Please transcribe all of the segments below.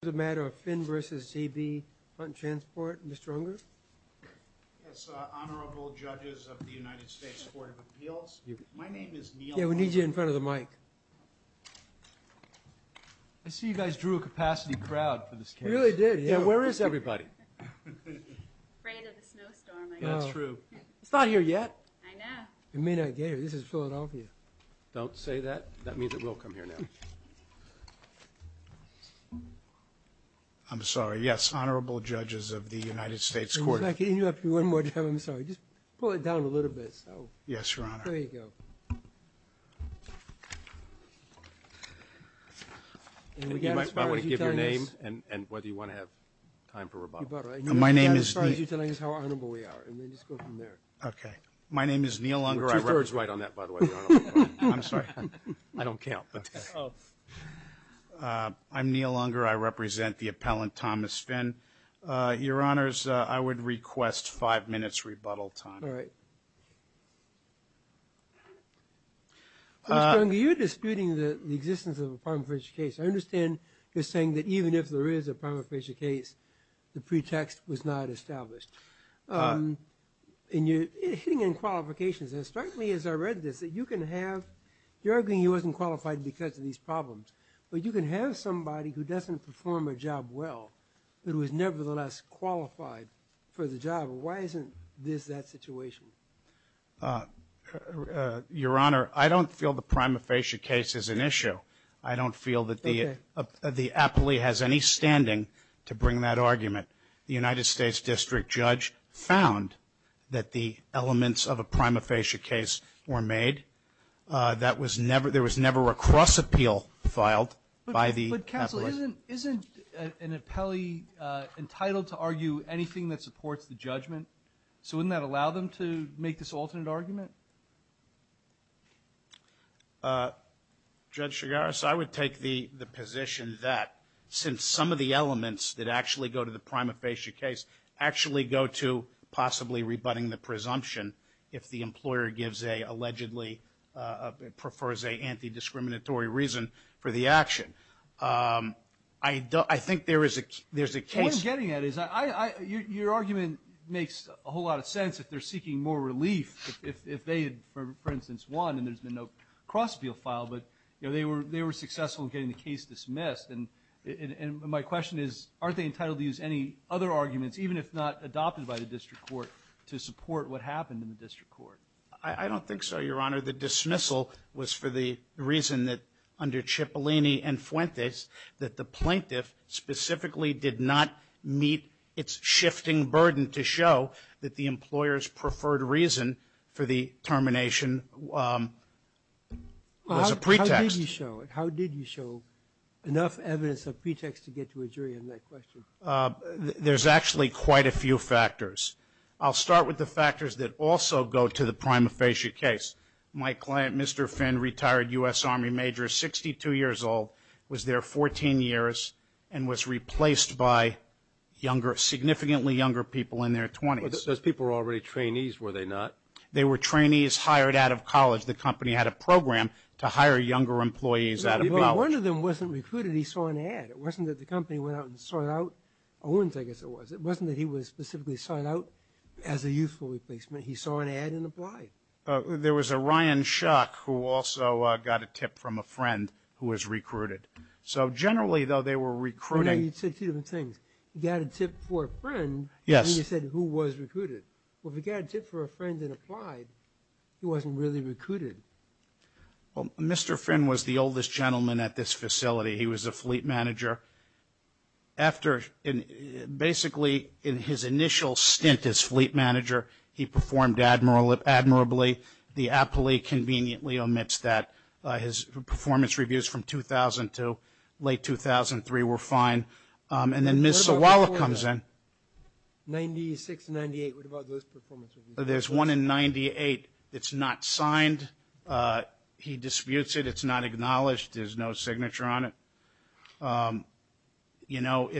This is a matter of Finn v. J.B. Hunt Transport. Mr. Unger? Yes, Honorable Judges of the United States Court of Appeals. My name is Neil Unger. Yeah, we need you in front of the mic. I see you guys drew a capacity crowd for this case. We really did, yeah. Yeah, where is everybody? Afraid of the snowstorm, I guess. That's true. It's not here yet. I know. It may not get here. This is Philadelphia. Don't say that. That means it will come here now. I'm sorry. Yes, Honorable Judges of the United States Court of Appeals. If I can interrupt you one more time, I'm sorry. Just pull it down a little bit. Yes, Your Honor. There you go. You might want to give your name and whether you want to have time for rebuttal. You're about right. My name is... As far as you're telling us how honorable we are, and then just go from there. Okay. My name is Neil Unger. George Wright on that, by the way. I'm sorry. I don't count. Oh. I'm Neil Unger. I represent the appellant, Thomas Finn. Your Honors, I would request five minutes rebuttal time. All right. Mr. Unger, you're disputing the existence of a prima facie case. I understand you're saying that even if there is a prima facie case, the pretext was not established. And you're hitting on qualifications. It struck me as I read this that you can have... You're arguing he wasn't qualified because of these problems, but you can have somebody who doesn't perform a job well, but who is nevertheless qualified for the job. Why isn't this that situation? Your Honor, I don't feel the prima facie case is an issue. I don't feel that the... Okay. ...the appellee has any standing to bring that argument. The United States District Judge found that the elements of a prima facie case were made. That was never... There was never a cross appeal filed by the appellate. But counsel, isn't an appellee entitled to argue anything that supports the judgment? So wouldn't that allow them to make this alternate argument? Judge Chigaris, I would take the position that since some of the elements that actually go to the prima facie case actually go to possibly rebutting the presumption if the employer gives a allegedly... prefers a anti-discriminatory reason for the action. I think there is a case... What I'm getting at is your argument makes a whole lot of sense if they're seeking more relief if they had, for instance, won and there's been no cross appeal filed, but they were successful in getting the case dismissed. And my question is aren't they entitled to use any other arguments, even if not adopted by the district court, to support what happened in the district court? I don't think so, Your Honor. The dismissal was for the reason that under Cipollini and Fuentes that the plaintiff specifically did not meet its shifting burden to show that the employer's preferred reason for the termination was a pretext. How did you show it? How did you show enough evidence of pretext to get to a jury on that question? There's actually quite a few factors. I'll start with the factors that also go to the prima facie case. My client, Mr. Finn, retired U.S. Army major, 62 years old, was there 14 years and was replaced by significantly younger people in their 20s. Those people were already trainees, were they not? They were trainees hired out of college. The company had a program to hire younger employees out of college. One of them wasn't recruited. He saw an ad. It wasn't that the company went out and sought out Owens, I guess it was. It wasn't that he was specifically sought out as a youthful replacement. He saw an ad and applied. There was a Ryan Shuck who also got a tip from a friend who was recruited. So generally, though, they were recruiting. You said two different things. You got a tip for a friend. Yes. And you said who was recruited. Well, if you got a tip for a friend and applied, he wasn't really recruited. Well, Mr. Finn was the oldest gentleman at this facility. He was a fleet manager. Basically, in his initial stint as fleet manager, he performed admirably. The appellee conveniently omits that. His performance reviews from 2000 to late 2003 were fine. And then Ms. Sawala comes in. 96, 98, what about those performance reviews? There's one in 98 that's not signed. He disputes it. It's not acknowledged. There's no signature on it. You know,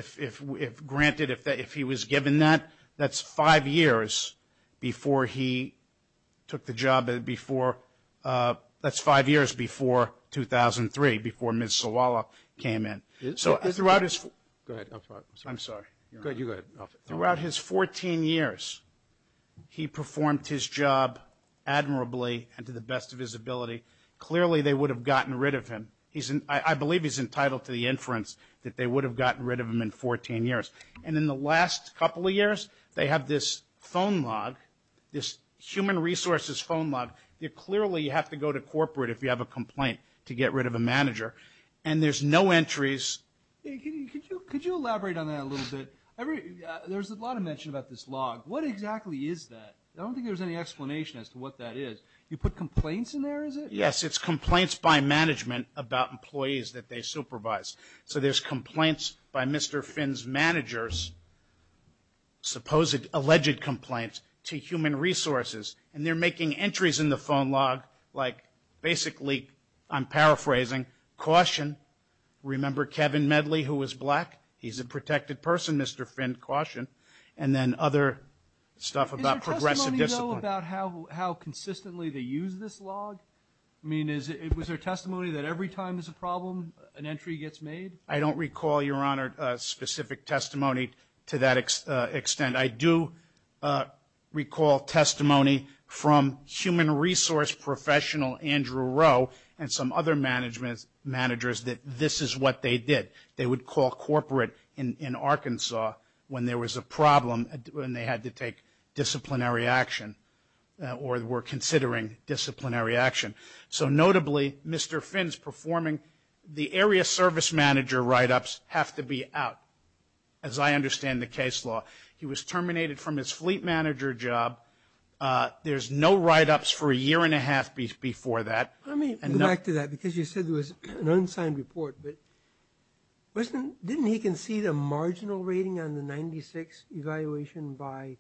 granted, if he was given that, that's five years before he took the job. That's five years before 2003, before Ms. Sawala came in. Go ahead. I'm sorry. You go ahead. Throughout his 14 years, he performed his job admirably and to the best of his ability. Clearly, they would have gotten rid of him. I believe he's entitled to the inference that they would have gotten rid of him in 14 years. And in the last couple of years, they have this phone log, this human resources phone log. Clearly, you have to go to corporate if you have a complaint to get rid of a manager. And there's no entries. Could you elaborate on that a little bit? There's a lot of mention about this log. What exactly is that? I don't think there's any explanation as to what that is. You put complaints in there, is it? Yes, it's complaints by management about employees that they supervise. So there's complaints by Mr. Finn's managers, supposed alleged complaints to human resources. And they're making entries in the phone log, like basically, I'm paraphrasing, caution. Remember Kevin Medley, who was black? He's a protected person, Mr. Finn. Caution. And then other stuff about progressive discipline. Is there testimony, though, about how consistently they use this log? I mean, was there testimony that every time there's a problem, an entry gets made? I don't recall, Your Honor, specific testimony to that extent. I do recall testimony from human resource professional Andrew Rowe and some other managers that this is what they did. They would call corporate in Arkansas when there was a problem and they had to take disciplinary action or were considering disciplinary action. So notably, Mr. Finn's performing the area service manager write-ups have to be out, as I understand the case law. He was terminated from his fleet manager job. There's no write-ups for a year and a half before that. Let me go back to that because you said there was an unsigned report. But didn't he concede a marginal rating on the 96th evaluation by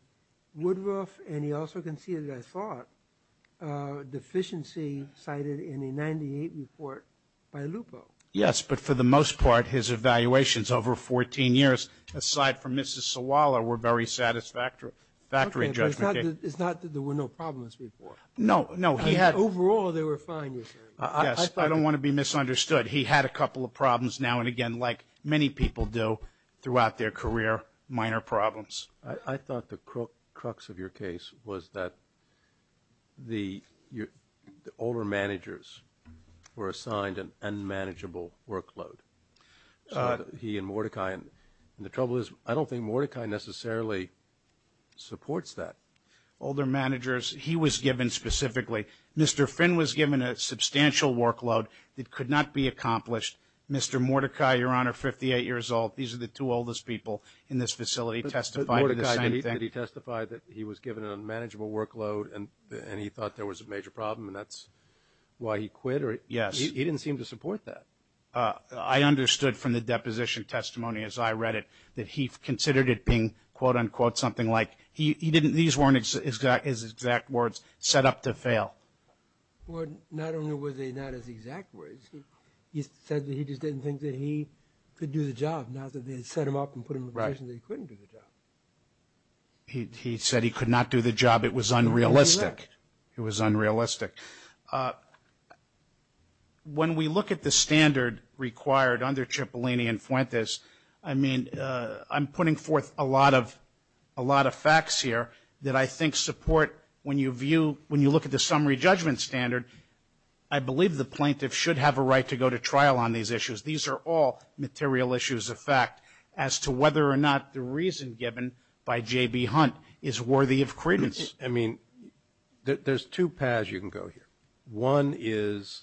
Woodruff? And he also conceded, I thought, a deficiency cited in the 98th report by Lupo. Yes, but for the most part, his evaluations over 14 years, aside from Mrs. Sawala, were very satisfactory. Okay, but it's not that there were no problems before. No, no. Overall, they were fine, Your Honor. Yes, I don't want to be misunderstood. He had a couple of problems now and again, like many people do, throughout their career, minor problems. I thought the crux of your case was that the older managers were assigned an unmanageable workload. He and Mordecai, and the trouble is I don't think Mordecai necessarily supports that. Older managers, he was given specifically. Mr. Finn was given a substantial workload that could not be accomplished. Mr. Mordecai, Your Honor, 58 years old, these are the two oldest people in this facility, testified to the same thing. But Mordecai, did he testify that he was given an unmanageable workload and he thought there was a major problem and that's why he quit? Yes. He didn't seem to support that. I understood from the deposition testimony, as I read it, that he considered it being, quote, unquote, something like, these weren't his exact words, set up to fail. Not only were they not his exact words, he said that he just didn't think that he could do the job, now that they set him up and put him in a position that he couldn't do the job. He said he could not do the job. It was unrealistic. It was unrealistic. When we look at the standard required under Cipollini and Fuentes, I mean, I'm putting forth a lot of facts here that I think support when you view, when you look at the summary judgment standard, I believe the plaintiff should have a right to go to trial on these issues. These are all material issues of fact as to whether or not the reason given by J.B. Hunt is worthy of credence. I mean, there's two paths you can go here. One is,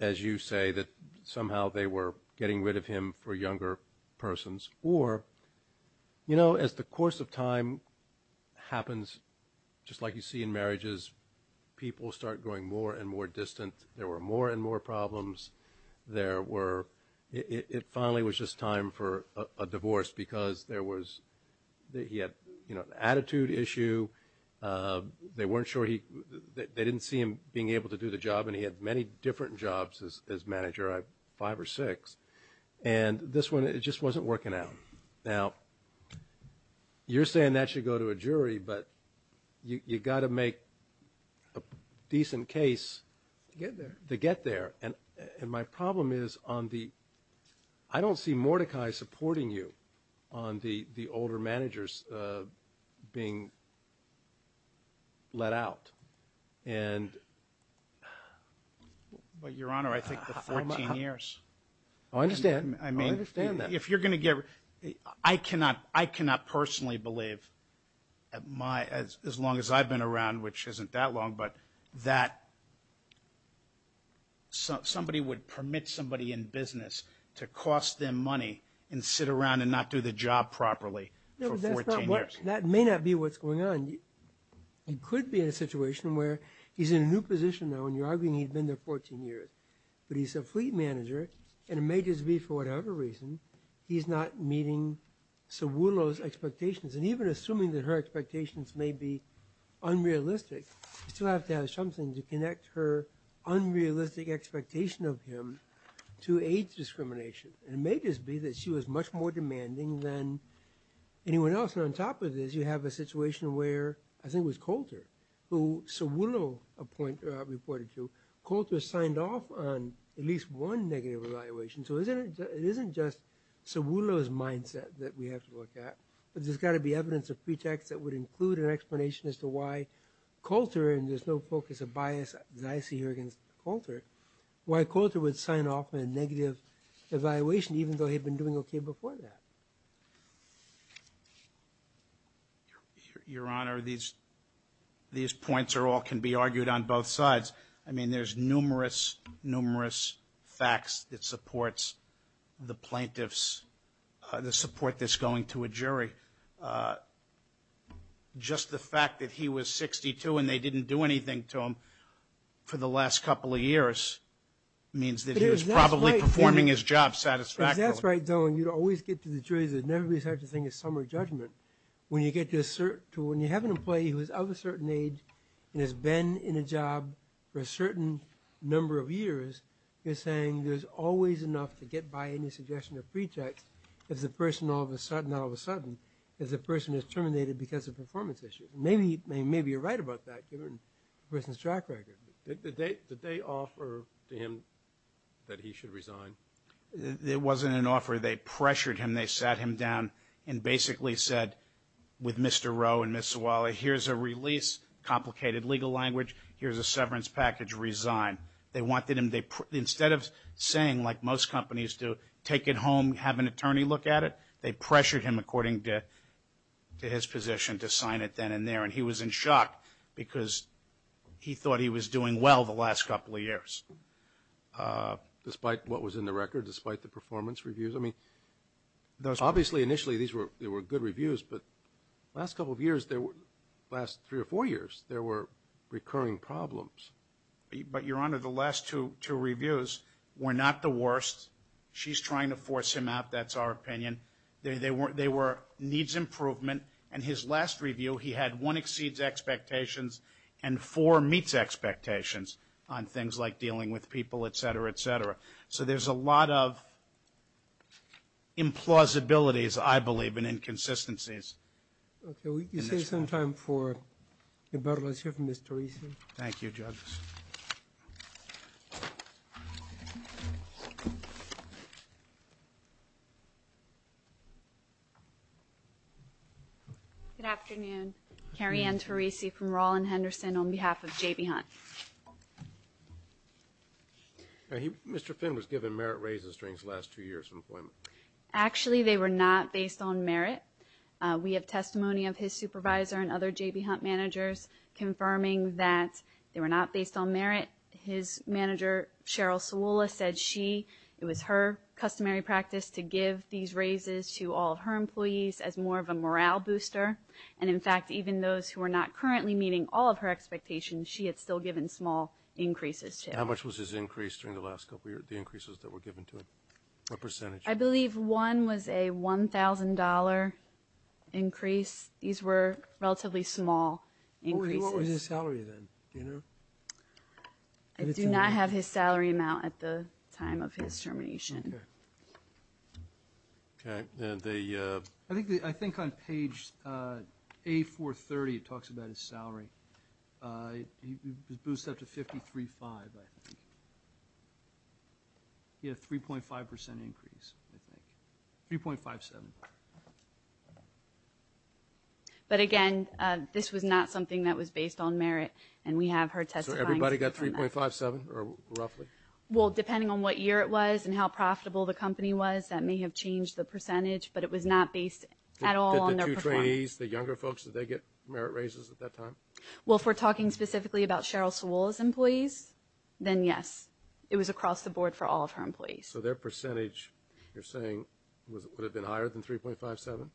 as you say, that somehow they were getting rid of him for younger persons. Or, you know, as the course of time happens, just like you see in marriages, people start going more and more distant. There were more and more problems. There were, it finally was just time for a divorce because there was, he had an attitude issue. They weren't sure he, they didn't see him being able to do the job, and he had many different jobs as manager, five or six. And this one, it just wasn't working out. Now, you're saying that should go to a jury, but you've got to make a decent case to get there. And my problem is on the, I don't see Mordecai supporting you on the older managers being let out. And... But, Your Honor, I think the 14 years. I understand. I mean, if you're going to get, I cannot personally believe, as long as I've been around, which isn't that long, but that somebody would permit somebody in business to cost them money and sit around and not do the job properly for 14 years. That may not be what's going on. He could be in a situation where he's in a new position now, and you're arguing he'd been there 14 years. But he's a fleet manager, and it may just be for whatever reason, he's not meeting Sawulo's expectations. And even assuming that her expectations may be unrealistic, you still have to have something to connect her unrealistic expectation of him to age discrimination. And it may just be that she was much more demanding than anyone else. And on top of this, you have a situation where, I think it was Coulter, who Sawulo reported to. Coulter signed off on at least one negative evaluation. So it isn't just Sawulo's mindset that we have to look at, but there's got to be evidence of pretext that would include an explanation as to why Coulter, and there's no focus of bias that I see here against Coulter, why Coulter would sign off on a negative evaluation, even though he'd been doing okay before that. Your Honor, these points all can be argued on both sides. I mean, there's numerous, numerous facts that supports the plaintiffs, the support that's going to a jury. Just the fact that he was 62 and they didn't do anything to him for the last couple of years means that he was probably performing his job satisfactorily. If that's right, Your Honor, you'd always get to the jury. There's never been such a thing as summary judgment. When you have an employee who is of a certain age and has been in a job for a certain number of years, you're saying there's always enough to get by any suggestion of pretext if the person all of a sudden, not all of a sudden, if the person is terminated because of performance issues. Maybe you're right about that, given the person's track record. Did they offer to him that he should resign? It wasn't an offer. They pressured him. They sat him down and basically said, with Mr. Rowe and Ms. Zawala, here's a release, complicated legal language, here's a severance package, resign. They wanted him, instead of saying, like most companies do, take it home, have an attorney look at it, they pressured him according to his position to sign it then and there, and he was in shock because he thought he was doing well the last couple of years. Despite what was in the record, despite the performance reviews? I mean, obviously, initially, these were good reviews, but the last couple of years, the last three or four years, there were recurring problems. She's trying to force him out. That's our opinion. They were needs improvement. In his last review, he had one exceeds expectations and four meets expectations on things like dealing with people, et cetera, et cetera. So there's a lot of implausibilities, I believe, and inconsistencies. Okay, we can save some time for rebuttal. Let's hear from Mr. Reesey. Thank you, judges. Thank you. Good afternoon. Carrie Ann Terese from Rollin Henderson on behalf of J.B. Hunt. Mr. Finn was given merit raises during his last two years of employment. Actually, they were not based on merit. We have testimony of his supervisor and other J.B. Hunt managers confirming that they were not based on merit. His manager, Cheryl Sawula, said it was her customary practice to give these raises to all of her employees as more of a morale booster. And, in fact, even those who are not currently meeting all of her expectations, she had still given small increases to him. How much was his increase during the last couple of years, the increases that were given to him? What percentage? I believe one was a $1,000 increase. These were relatively small increases. What was his salary then? I do not have his salary amount at the time of his termination. Okay. I think on page A430 it talks about his salary. He was boosted up to $53,500, I think. He had a 3.5% increase, I think. 3.57. But, again, this was not something that was based on merit, and we have her testifying on that. So everybody got 3.57, or roughly? Well, depending on what year it was and how profitable the company was, that may have changed the percentage, but it was not based at all on their performance. Did the two trainees, the younger folks, did they get merit raises at that time? Well, if we're talking specifically about Cheryl Sawula's employees, then yes. It was across the board for all of her employees. So their percentage, you're saying, would have been higher than 3.57?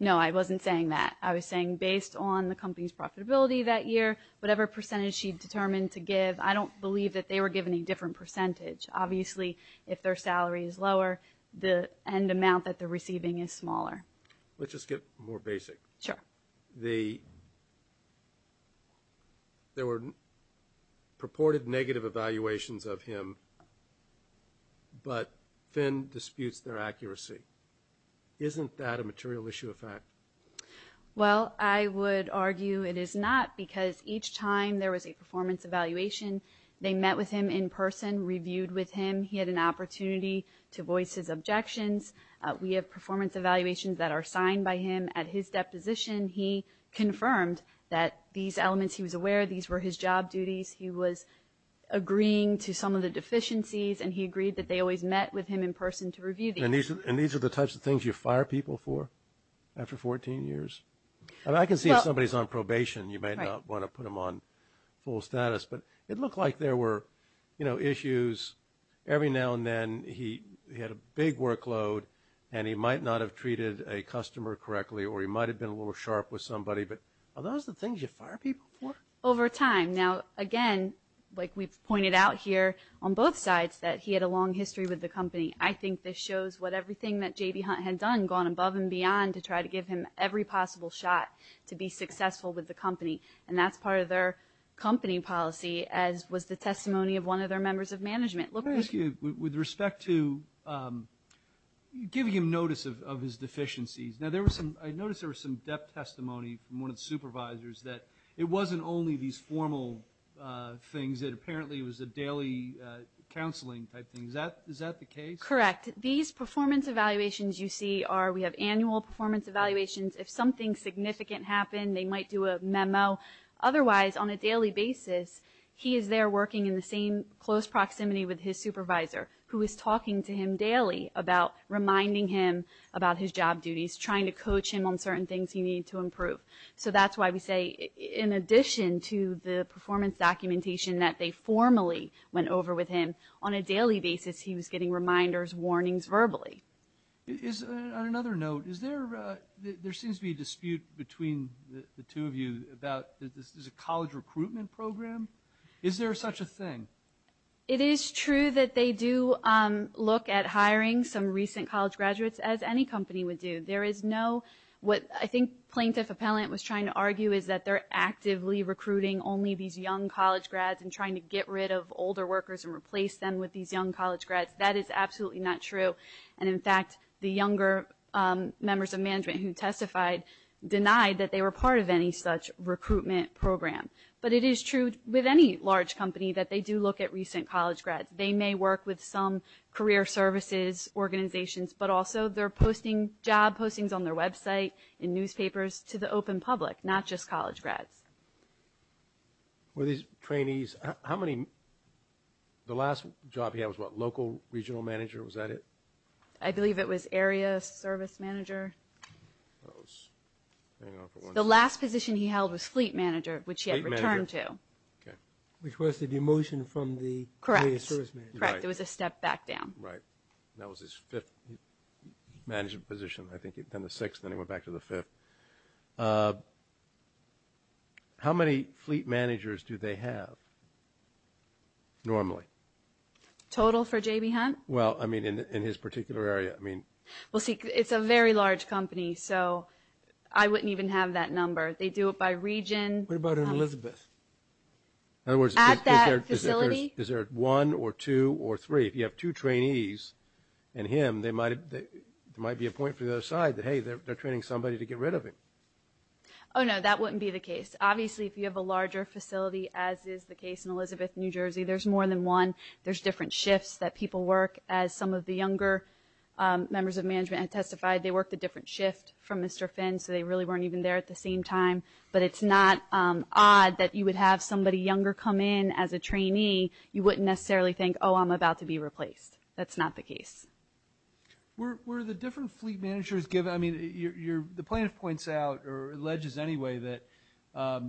No, I wasn't saying that. I was saying based on the company's profitability that year, whatever percentage she determined to give, I don't believe that they were given a different percentage. Obviously, if their salary is lower, the end amount that they're receiving is smaller. Let's just get more basic. Sure. There were purported negative evaluations of him, but Finn disputes their accuracy. Isn't that a material issue of fact? Well, I would argue it is not because each time there was a performance evaluation, they met with him in person, reviewed with him. He had an opportunity to voice his objections. We have performance evaluations that are signed by him at his deposition. He confirmed that these elements he was aware of, these were his job duties. He was agreeing to some of the deficiencies, and he agreed that they always met with him in person to review these. And these are the types of things you fire people for after 14 years? I can see if somebody is on probation, you might not want to put them on full status, but it looked like there were issues. Every now and then, he had a big workload, and he might not have treated a customer correctly or he might have been a little sharp with somebody. But are those the things you fire people for? Over time. Now, again, like we've pointed out here on both sides, that he had a long history with the company. I think this shows what everything that J.B. Hunt had done, gone above and beyond to try to give him every possible shot to be successful with the company. And that's part of their company policy, as was the testimony of one of their members of management. With respect to giving him notice of his deficiencies, I noticed there was some depth testimony from one of the supervisors that it wasn't only these formal things, that apparently it was a daily counseling type thing. Is that the case? Correct. These performance evaluations you see are we have annual performance evaluations. If something significant happened, they might do a memo. Otherwise, on a daily basis, he is there working in the same close proximity with his supervisor, who is talking to him daily about reminding him about his job duties, trying to coach him on certain things he needed to improve. So that's why we say in addition to the performance documentation that they formally went over with him, on a daily basis he was getting reminders, warnings verbally. On another note, there seems to be a dispute between the two of you about this is a college recruitment program. Is there such a thing? It is true that they do look at hiring some recent college graduates, as any company would do. There is no, what I think Plaintiff Appellant was trying to argue, is that they're actively recruiting only these young college grads and trying to get rid of older workers and replace them with these young college grads. That is absolutely not true. And in fact, the younger members of management who testified denied that they were part of any such recruitment program. But it is true with any large company that they do look at recent college grads. They may work with some career services organizations, but also they're posting job postings on their website, in newspapers, to the open public, not just college grads. Were these trainees, how many, the last job he had was what, local regional manager, was that it? I believe it was area service manager. The last position he held was fleet manager, which he had returned to. Which was the demotion from the area service manager. Correct, it was a step back down. That was his fifth management position, I think, then the sixth, then he went back to the fifth. How many fleet managers do they have normally? Total for J.B. Hunt? Well, I mean, in his particular area. Well, see, it's a very large company, so I wouldn't even have that number. They do it by region. What about in Elizabeth? At that facility? Is there one or two or three? If you have two trainees and him, there might be a point for the other side that, hey, they're training somebody to get rid of him. Oh, no, that wouldn't be the case. Obviously, if you have a larger facility, as is the case in Elizabeth, New Jersey, there's more than one. There's different shifts that people work. As some of the younger members of management have testified, they worked a different shift from Mr. Finn, so they really weren't even there at the same time. But it's not odd that you would have somebody younger come in as a trainee. You wouldn't necessarily think, oh, I'm about to be replaced. That's not the case. Were the different fleet managers given? The plaintiff points out, or alleges anyway, that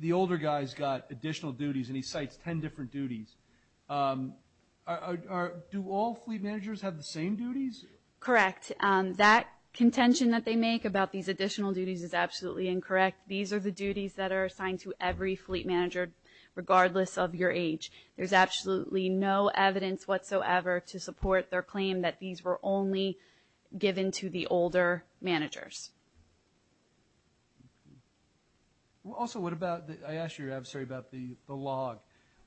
the older guy's got additional duties, and he cites ten different duties. Do all fleet managers have the same duties? Correct. That contention that they make about these additional duties is absolutely incorrect. These are the duties that are assigned to every fleet manager, regardless of your age. There's absolutely no evidence whatsoever to support their claim that these were only given to the older managers. Also, I asked you, I'm sorry, about the log.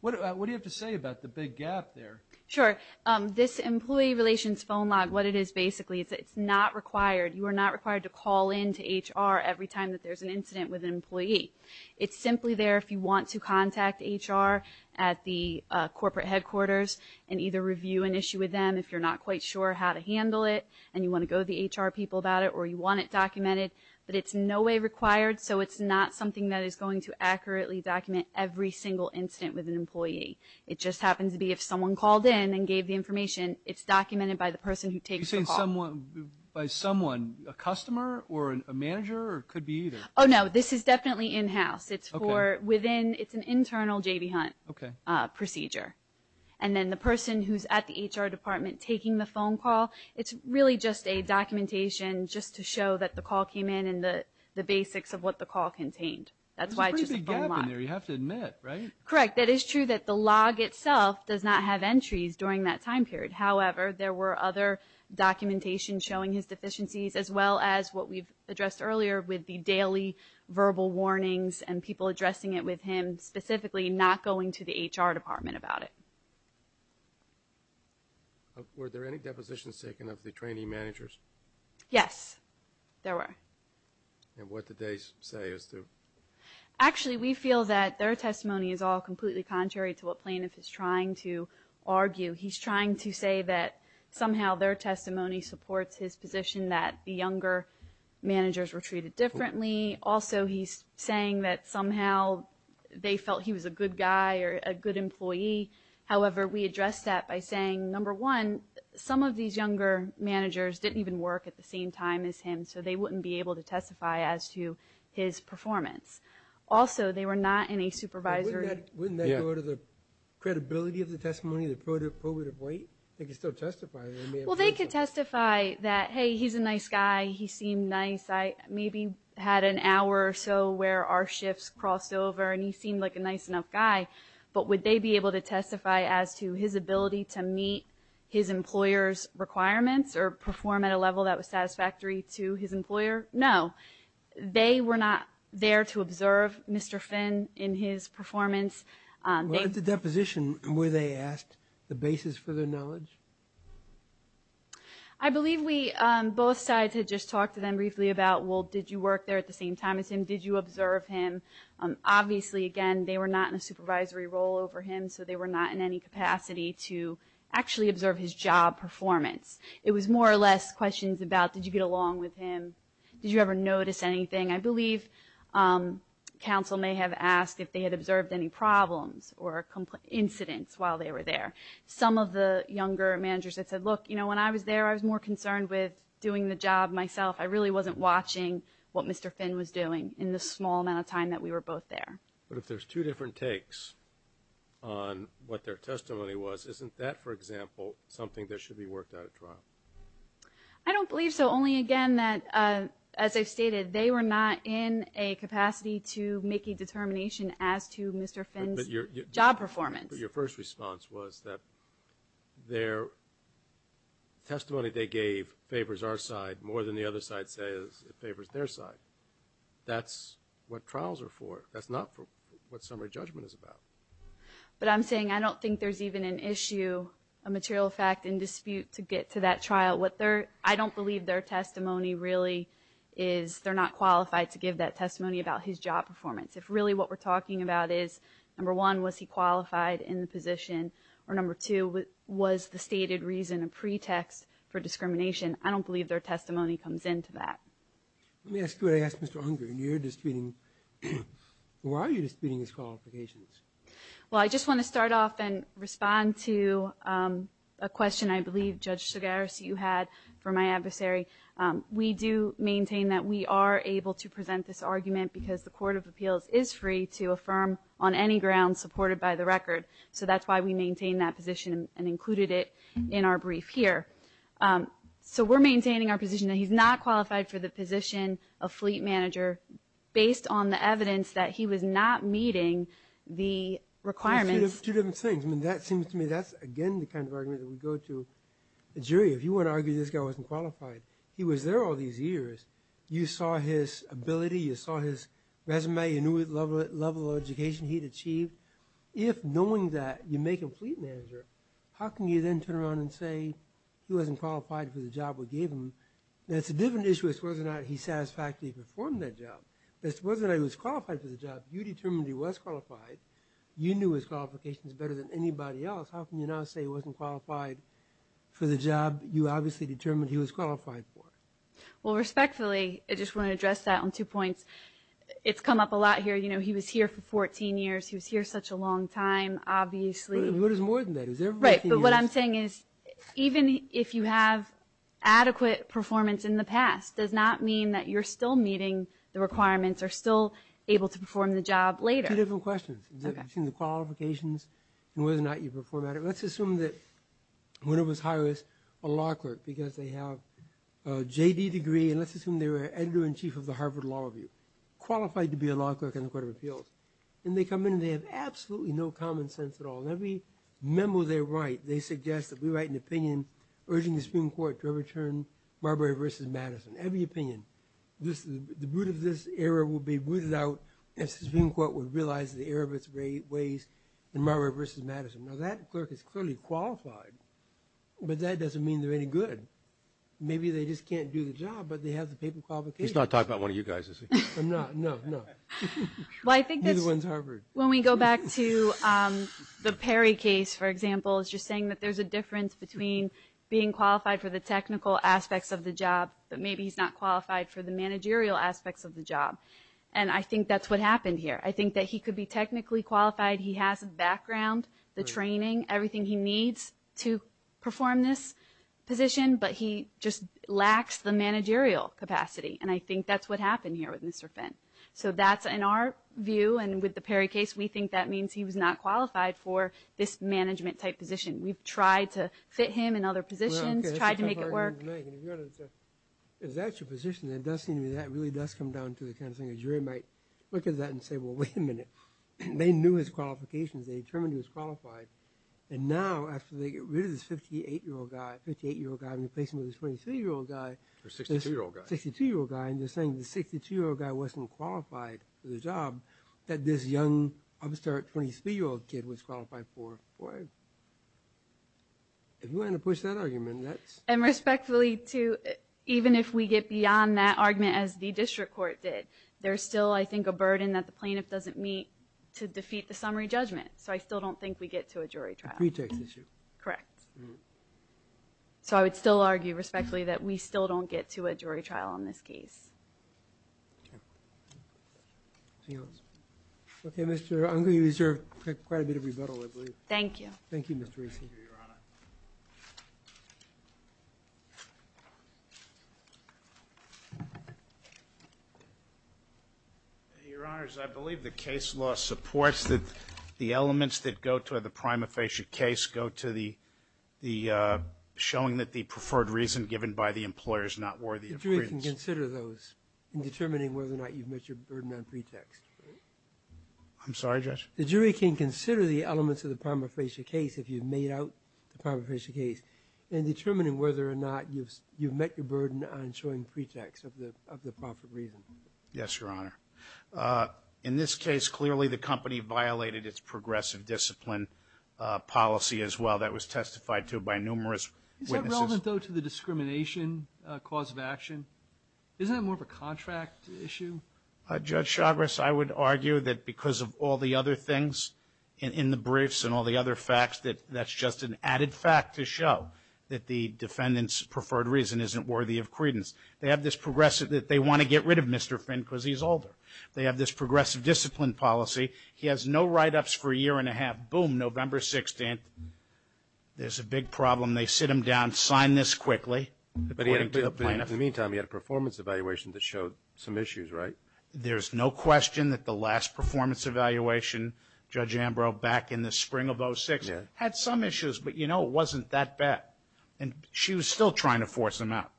What do you have to say about the big gap there? Sure. This employee relations phone log, what it is basically, it's not required. You are not required to call in to HR every time that there's an incident with an employee. It's simply there if you want to contact HR at the corporate headquarters and either review an issue with them if you're not quite sure how to handle it, and you want to go to the HR people about it, or you want it documented. But it's in no way required, so it's not something that is going to accurately document every single incident with an employee. It just happens to be if someone called in and gave the information, it's documented by the person who takes the call. Are you saying by someone, a customer or a manager, or it could be either? Oh, no, this is definitely in-house. It's for within, it's an internal J.B. Hunt procedure. And then the person who's at the HR department taking the phone call, it's really just a documentation just to show that the call came in and the basics of what the call contained. That's why it's just a phone log. There's a pretty big gap in there, you have to admit, right? Correct. That is true that the log itself does not have entries during that time period. However, there were other documentation showing his deficiencies as well as what we've addressed earlier with the daily verbal warnings and people addressing it with him, specifically not going to the HR department about it. Were there any depositions taken of the trainee managers? Yes, there were. And what did they say as to? Actually, we feel that their testimony is all completely contrary to what plaintiff is trying to argue. He's trying to say that somehow their testimony supports his position that the younger managers were treated differently. Also, he's saying that somehow they felt he was a good guy or a good employee. However, we addressed that by saying, number one, some of these younger managers didn't even work at the same time as him, so they wouldn't be able to testify as to his performance. Also, they were not in a supervisory. Wouldn't that go to the credibility of the testimony, the probative weight? They could still testify. Well, they could testify that, hey, he's a nice guy, he seemed nice, maybe had an hour or so where our shifts crossed over and he seemed like a nice enough guy. But would they be able to testify as to his ability to meet his employer's requirements or perform at a level that was satisfactory to his employer? No. They were not there to observe Mr. Finn in his performance. At the deposition, were they asked the basis for their knowledge? I believe both sides had just talked to them briefly about, well, did you work there at the same time as him? Did you observe him? Obviously, again, they were not in a supervisory role over him, so they were not in any capacity to actually observe his job performance. It was more or less questions about did you get along with him? Did you ever notice anything? I believe counsel may have asked if they had observed any problems or incidents while they were there. Some of the younger managers had said, look, when I was there, I was more concerned with doing the job myself. I really wasn't watching what Mr. Finn was doing in the small amount of time that we were both there. But if there's two different takes on what their testimony was, isn't that, for example, something that should be worked out at trial? I don't believe so, only, again, that, as I've stated, they were not in a capacity to make a determination as to Mr. Finn's job performance. Your first response was that their testimony they gave favors our side more than the other side says it favors their side. That's what trials are for. That's not what summary judgment is about. But I'm saying I don't think there's even an issue, a material fact in dispute to get to that trial. I don't believe their testimony really is they're not qualified to give that testimony about his job performance. If really what we're talking about is, number one, was he qualified in the position, or number two, was the stated reason a pretext for discrimination. I don't believe their testimony comes into that. Let me ask you what I asked Mr. Unger, and you're disputing, why are you disputing his qualifications? Well, I just want to start off and respond to a question I believe, Judge Segaris, you had for my adversary. We do maintain that we are able to present this argument because the Court of Appeals is free to affirm on any ground supported by the record. So that's why we maintain that position and included it in our brief here. So we're maintaining our position that he's not qualified for the position of fleet manager based on the evidence that he was not meeting the requirements. Two different things. I mean, that seems to me that's, again, the kind of argument that we go to. A jury, if you want to argue this guy wasn't qualified, he was there all these years. You saw his ability, you saw his resume, you knew the level of education he'd achieved. If knowing that you make him fleet manager, how can you then turn around and say he wasn't qualified for the job we gave him? That's a different issue as to whether or not he satisfactorily performed that job. As to whether or not he was qualified for the job, you determined he was qualified. You knew his qualifications better than anybody else. How can you now say he wasn't qualified for the job you obviously determined he was qualified for? Well, respectfully, I just want to address that on two points. It's come up a lot here. You know, he was here for 14 years. He was here such a long time, obviously. What is more than that? Right, but what I'm saying is even if you have adequate performance in the past, does not mean that you're still meeting the requirements or still able to perform the job later. Two different questions. You've seen the qualifications and whether or not you perform at it. Let's assume that one of us hires a law clerk because they have a JD degree and let's assume they were editor-in-chief of the Harvard Law Review, qualified to be a law clerk in the Court of Appeals. And they come in and they have absolutely no common sense at all. In every memo they write, they suggest that we write an opinion urging the Supreme Court to overturn Marbury v. Madison, every opinion. The root of this error will be rooted out if the Supreme Court would realize the error of its ways in Marbury v. Madison. Now that clerk is clearly qualified, but that doesn't mean they're any good. Maybe they just can't do the job, but they have the paper qualifications. He's not talking about one of you guys, is he? No, no, no. Neither one's Harvard. When we go back to the Perry case, for example, it's just saying that there's a difference between being qualified for the technical aspects of the job but maybe he's not qualified for the managerial aspects of the job. And I think that's what happened here. I think that he could be technically qualified. He has the background, the training, everything he needs to perform this position, but he just lacks the managerial capacity. And I think that's what happened here with Mr. Fenn. So that's in our view, and with the Perry case, we think that means he was not qualified for this management-type position. We've tried to fit him in other positions, tried to make it work. Well, okay, that's a tough argument to make. And if you were to say, is that your position, that really does come down to the kind of thing a jury might look at that and say, well, wait a minute, they knew his qualifications, they determined he was qualified, and now after they get rid of this 58-year-old guy, 58-year-old guy and replace him with a 23-year-old guy. Or 62-year-old guy. 62-year-old guy, and they're saying the 62-year-old guy wasn't qualified for the job that this young, upstart 23-year-old kid was qualified for. If you want to push that argument, that's... And respectfully, too, even if we get beyond that argument as the district court did, there's still, I think, a burden that the plaintiff doesn't meet to defeat the summary judgment. So I still don't think we get to a jury trial. A pretext issue. Correct. So I would still argue respectfully that we still don't get to a jury trial on this case. Okay, Mr. Unger, you deserve quite a bit of rebuttal, I believe. Thank you. Thank you, Mr. Rasey. Thank you, Your Honor. Your Honors, I believe the case law supports that the elements that go to the prima facie case go to the showing that the preferred reason given by the employer is not worthy of credence. The jury can consider those in determining whether or not you've met your burden on pretext. I'm sorry, Judge? The jury can consider the elements of the prima facie case if you've made out the prima facie case in determining whether or not you've met your burden on showing pretext of the proper reason. Yes, Your Honor. In this case, clearly the company violated its progressive discipline policy as well. That was testified to by numerous witnesses. Is that relevant, though, to the discrimination cause of action? Isn't that more of a contract issue? Judge Chagras, I would argue that because of all the other things in the briefs and all the other facts, that that's just an added fact to show that the defendant's preferred reason isn't worthy of credence. They have this progressive that they want to get rid of Mr. Finn because he's older. They have this progressive discipline policy. He has no write-ups for a year and a half. Boom, November 16th, there's a big problem. In the meantime, you had a performance evaluation that showed some issues, right? There's no question that the last performance evaluation, Judge Ambrose, back in the spring of 2006, had some issues, but, you know, it wasn't that bad. And she was still trying to force them out.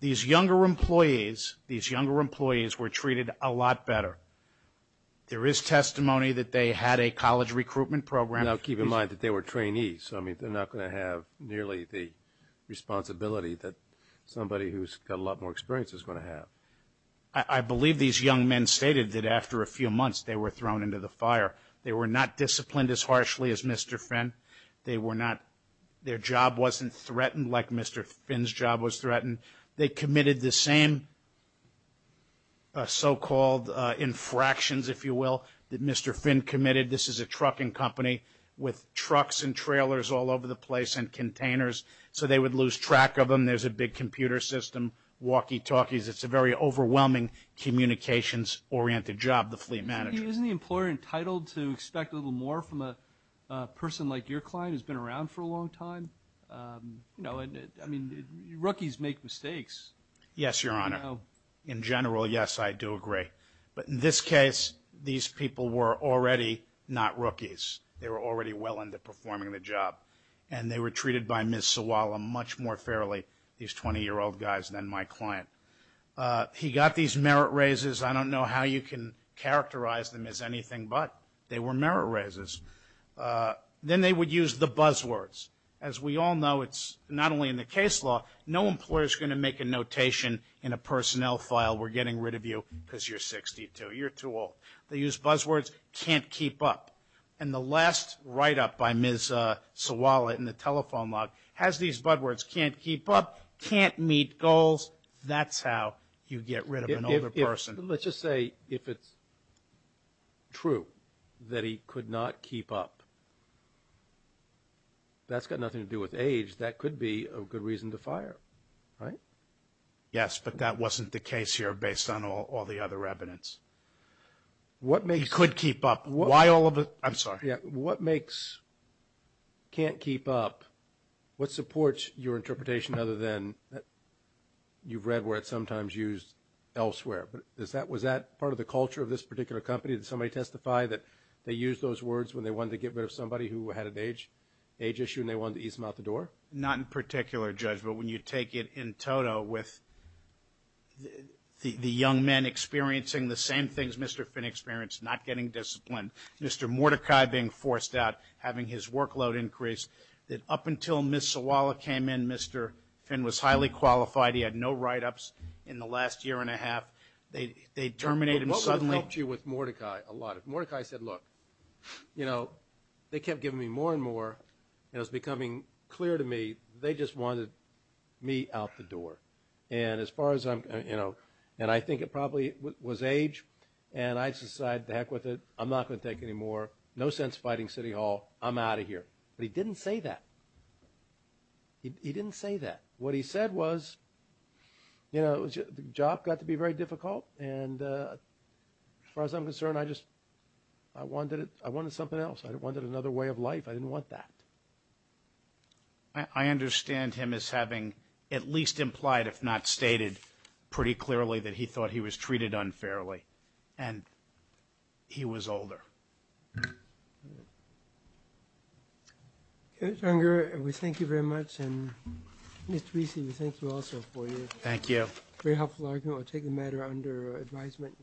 These younger employees, these younger employees were treated a lot better. There is testimony that they had a college recruitment program. Now, keep in mind that they were trainees. So, I mean, they're not going to have nearly the responsibility that somebody who's got a lot more experience is going to have. I believe these young men stated that after a few months they were thrown into the fire. They were not disciplined as harshly as Mr. Finn. They were not – their job wasn't threatened like Mr. Finn's job was threatened. They committed the same so-called infractions, if you will, that Mr. Finn committed. This is a trucking company with trucks and trailers all over the place and containers. So they would lose track of them. There's a big computer system, walkie-talkies. It's a very overwhelming communications-oriented job, the fleet manager. Isn't the employer entitled to expect a little more from a person like your client who's been around for a long time? You know, I mean, rookies make mistakes. Yes, Your Honor. In general, yes, I do agree. But in this case, these people were already not rookies. They were already well into performing the job. And they were treated by Ms. Suwalla much more fairly, these 20-year-old guys, than my client. He got these merit raises. I don't know how you can characterize them as anything but they were merit raises. Then they would use the buzzwords. As we all know, it's not only in the case law. No employer is going to make a notation in a personnel file, we're getting rid of you because you're 62, you're too old. They use buzzwords, can't keep up. And the last write-up by Ms. Suwalla in the telephone log has these buzzwords, can't keep up, can't meet goals. That's how you get rid of an older person. Let's just say if it's true that he could not keep up, that's got nothing to do with age. That could be a good reason to fire, right? Yes, but that wasn't the case here based on all the other evidence. He could keep up. I'm sorry. What makes can't keep up? What supports your interpretation other than you've read where it's sometimes used elsewhere? Was that part of the culture of this particular company? Did somebody testify that they used those words when they wanted to get rid of somebody who had an age issue and they wanted to ease them out the door? Not in particular, Judge, but when you take it in total with the young men experiencing the same things Mr. Finn experienced, not getting disciplined, Mr. Mordecai being forced out, having his workload increased, that up until Ms. Suwalla came in, Mr. Finn was highly qualified. He had no write-ups in the last year and a half. They terminated him suddenly. What would have helped you with Mordecai a lot? If Mordecai said, look, you know, they kept giving me more and more, and it was becoming clear to me they just wanted me out the door. And as far as I'm, you know, and I think it probably was age, and I just decided to heck with it. I'm not going to take any more. No sense fighting City Hall. I'm out of here. But he didn't say that. He didn't say that. What he said was, you know, the job got to be very difficult, and as far as I'm concerned, I just, I wanted it. I wanted something else. I wanted another way of life. I didn't want that. I understand him as having at least implied, if not stated, pretty clearly that he thought he was treated unfairly. And he was older. Mr. Unger, we thank you very much. And, Mr. Wiese, we thank you also for your very helpful argument. We'll take the matter under advisement.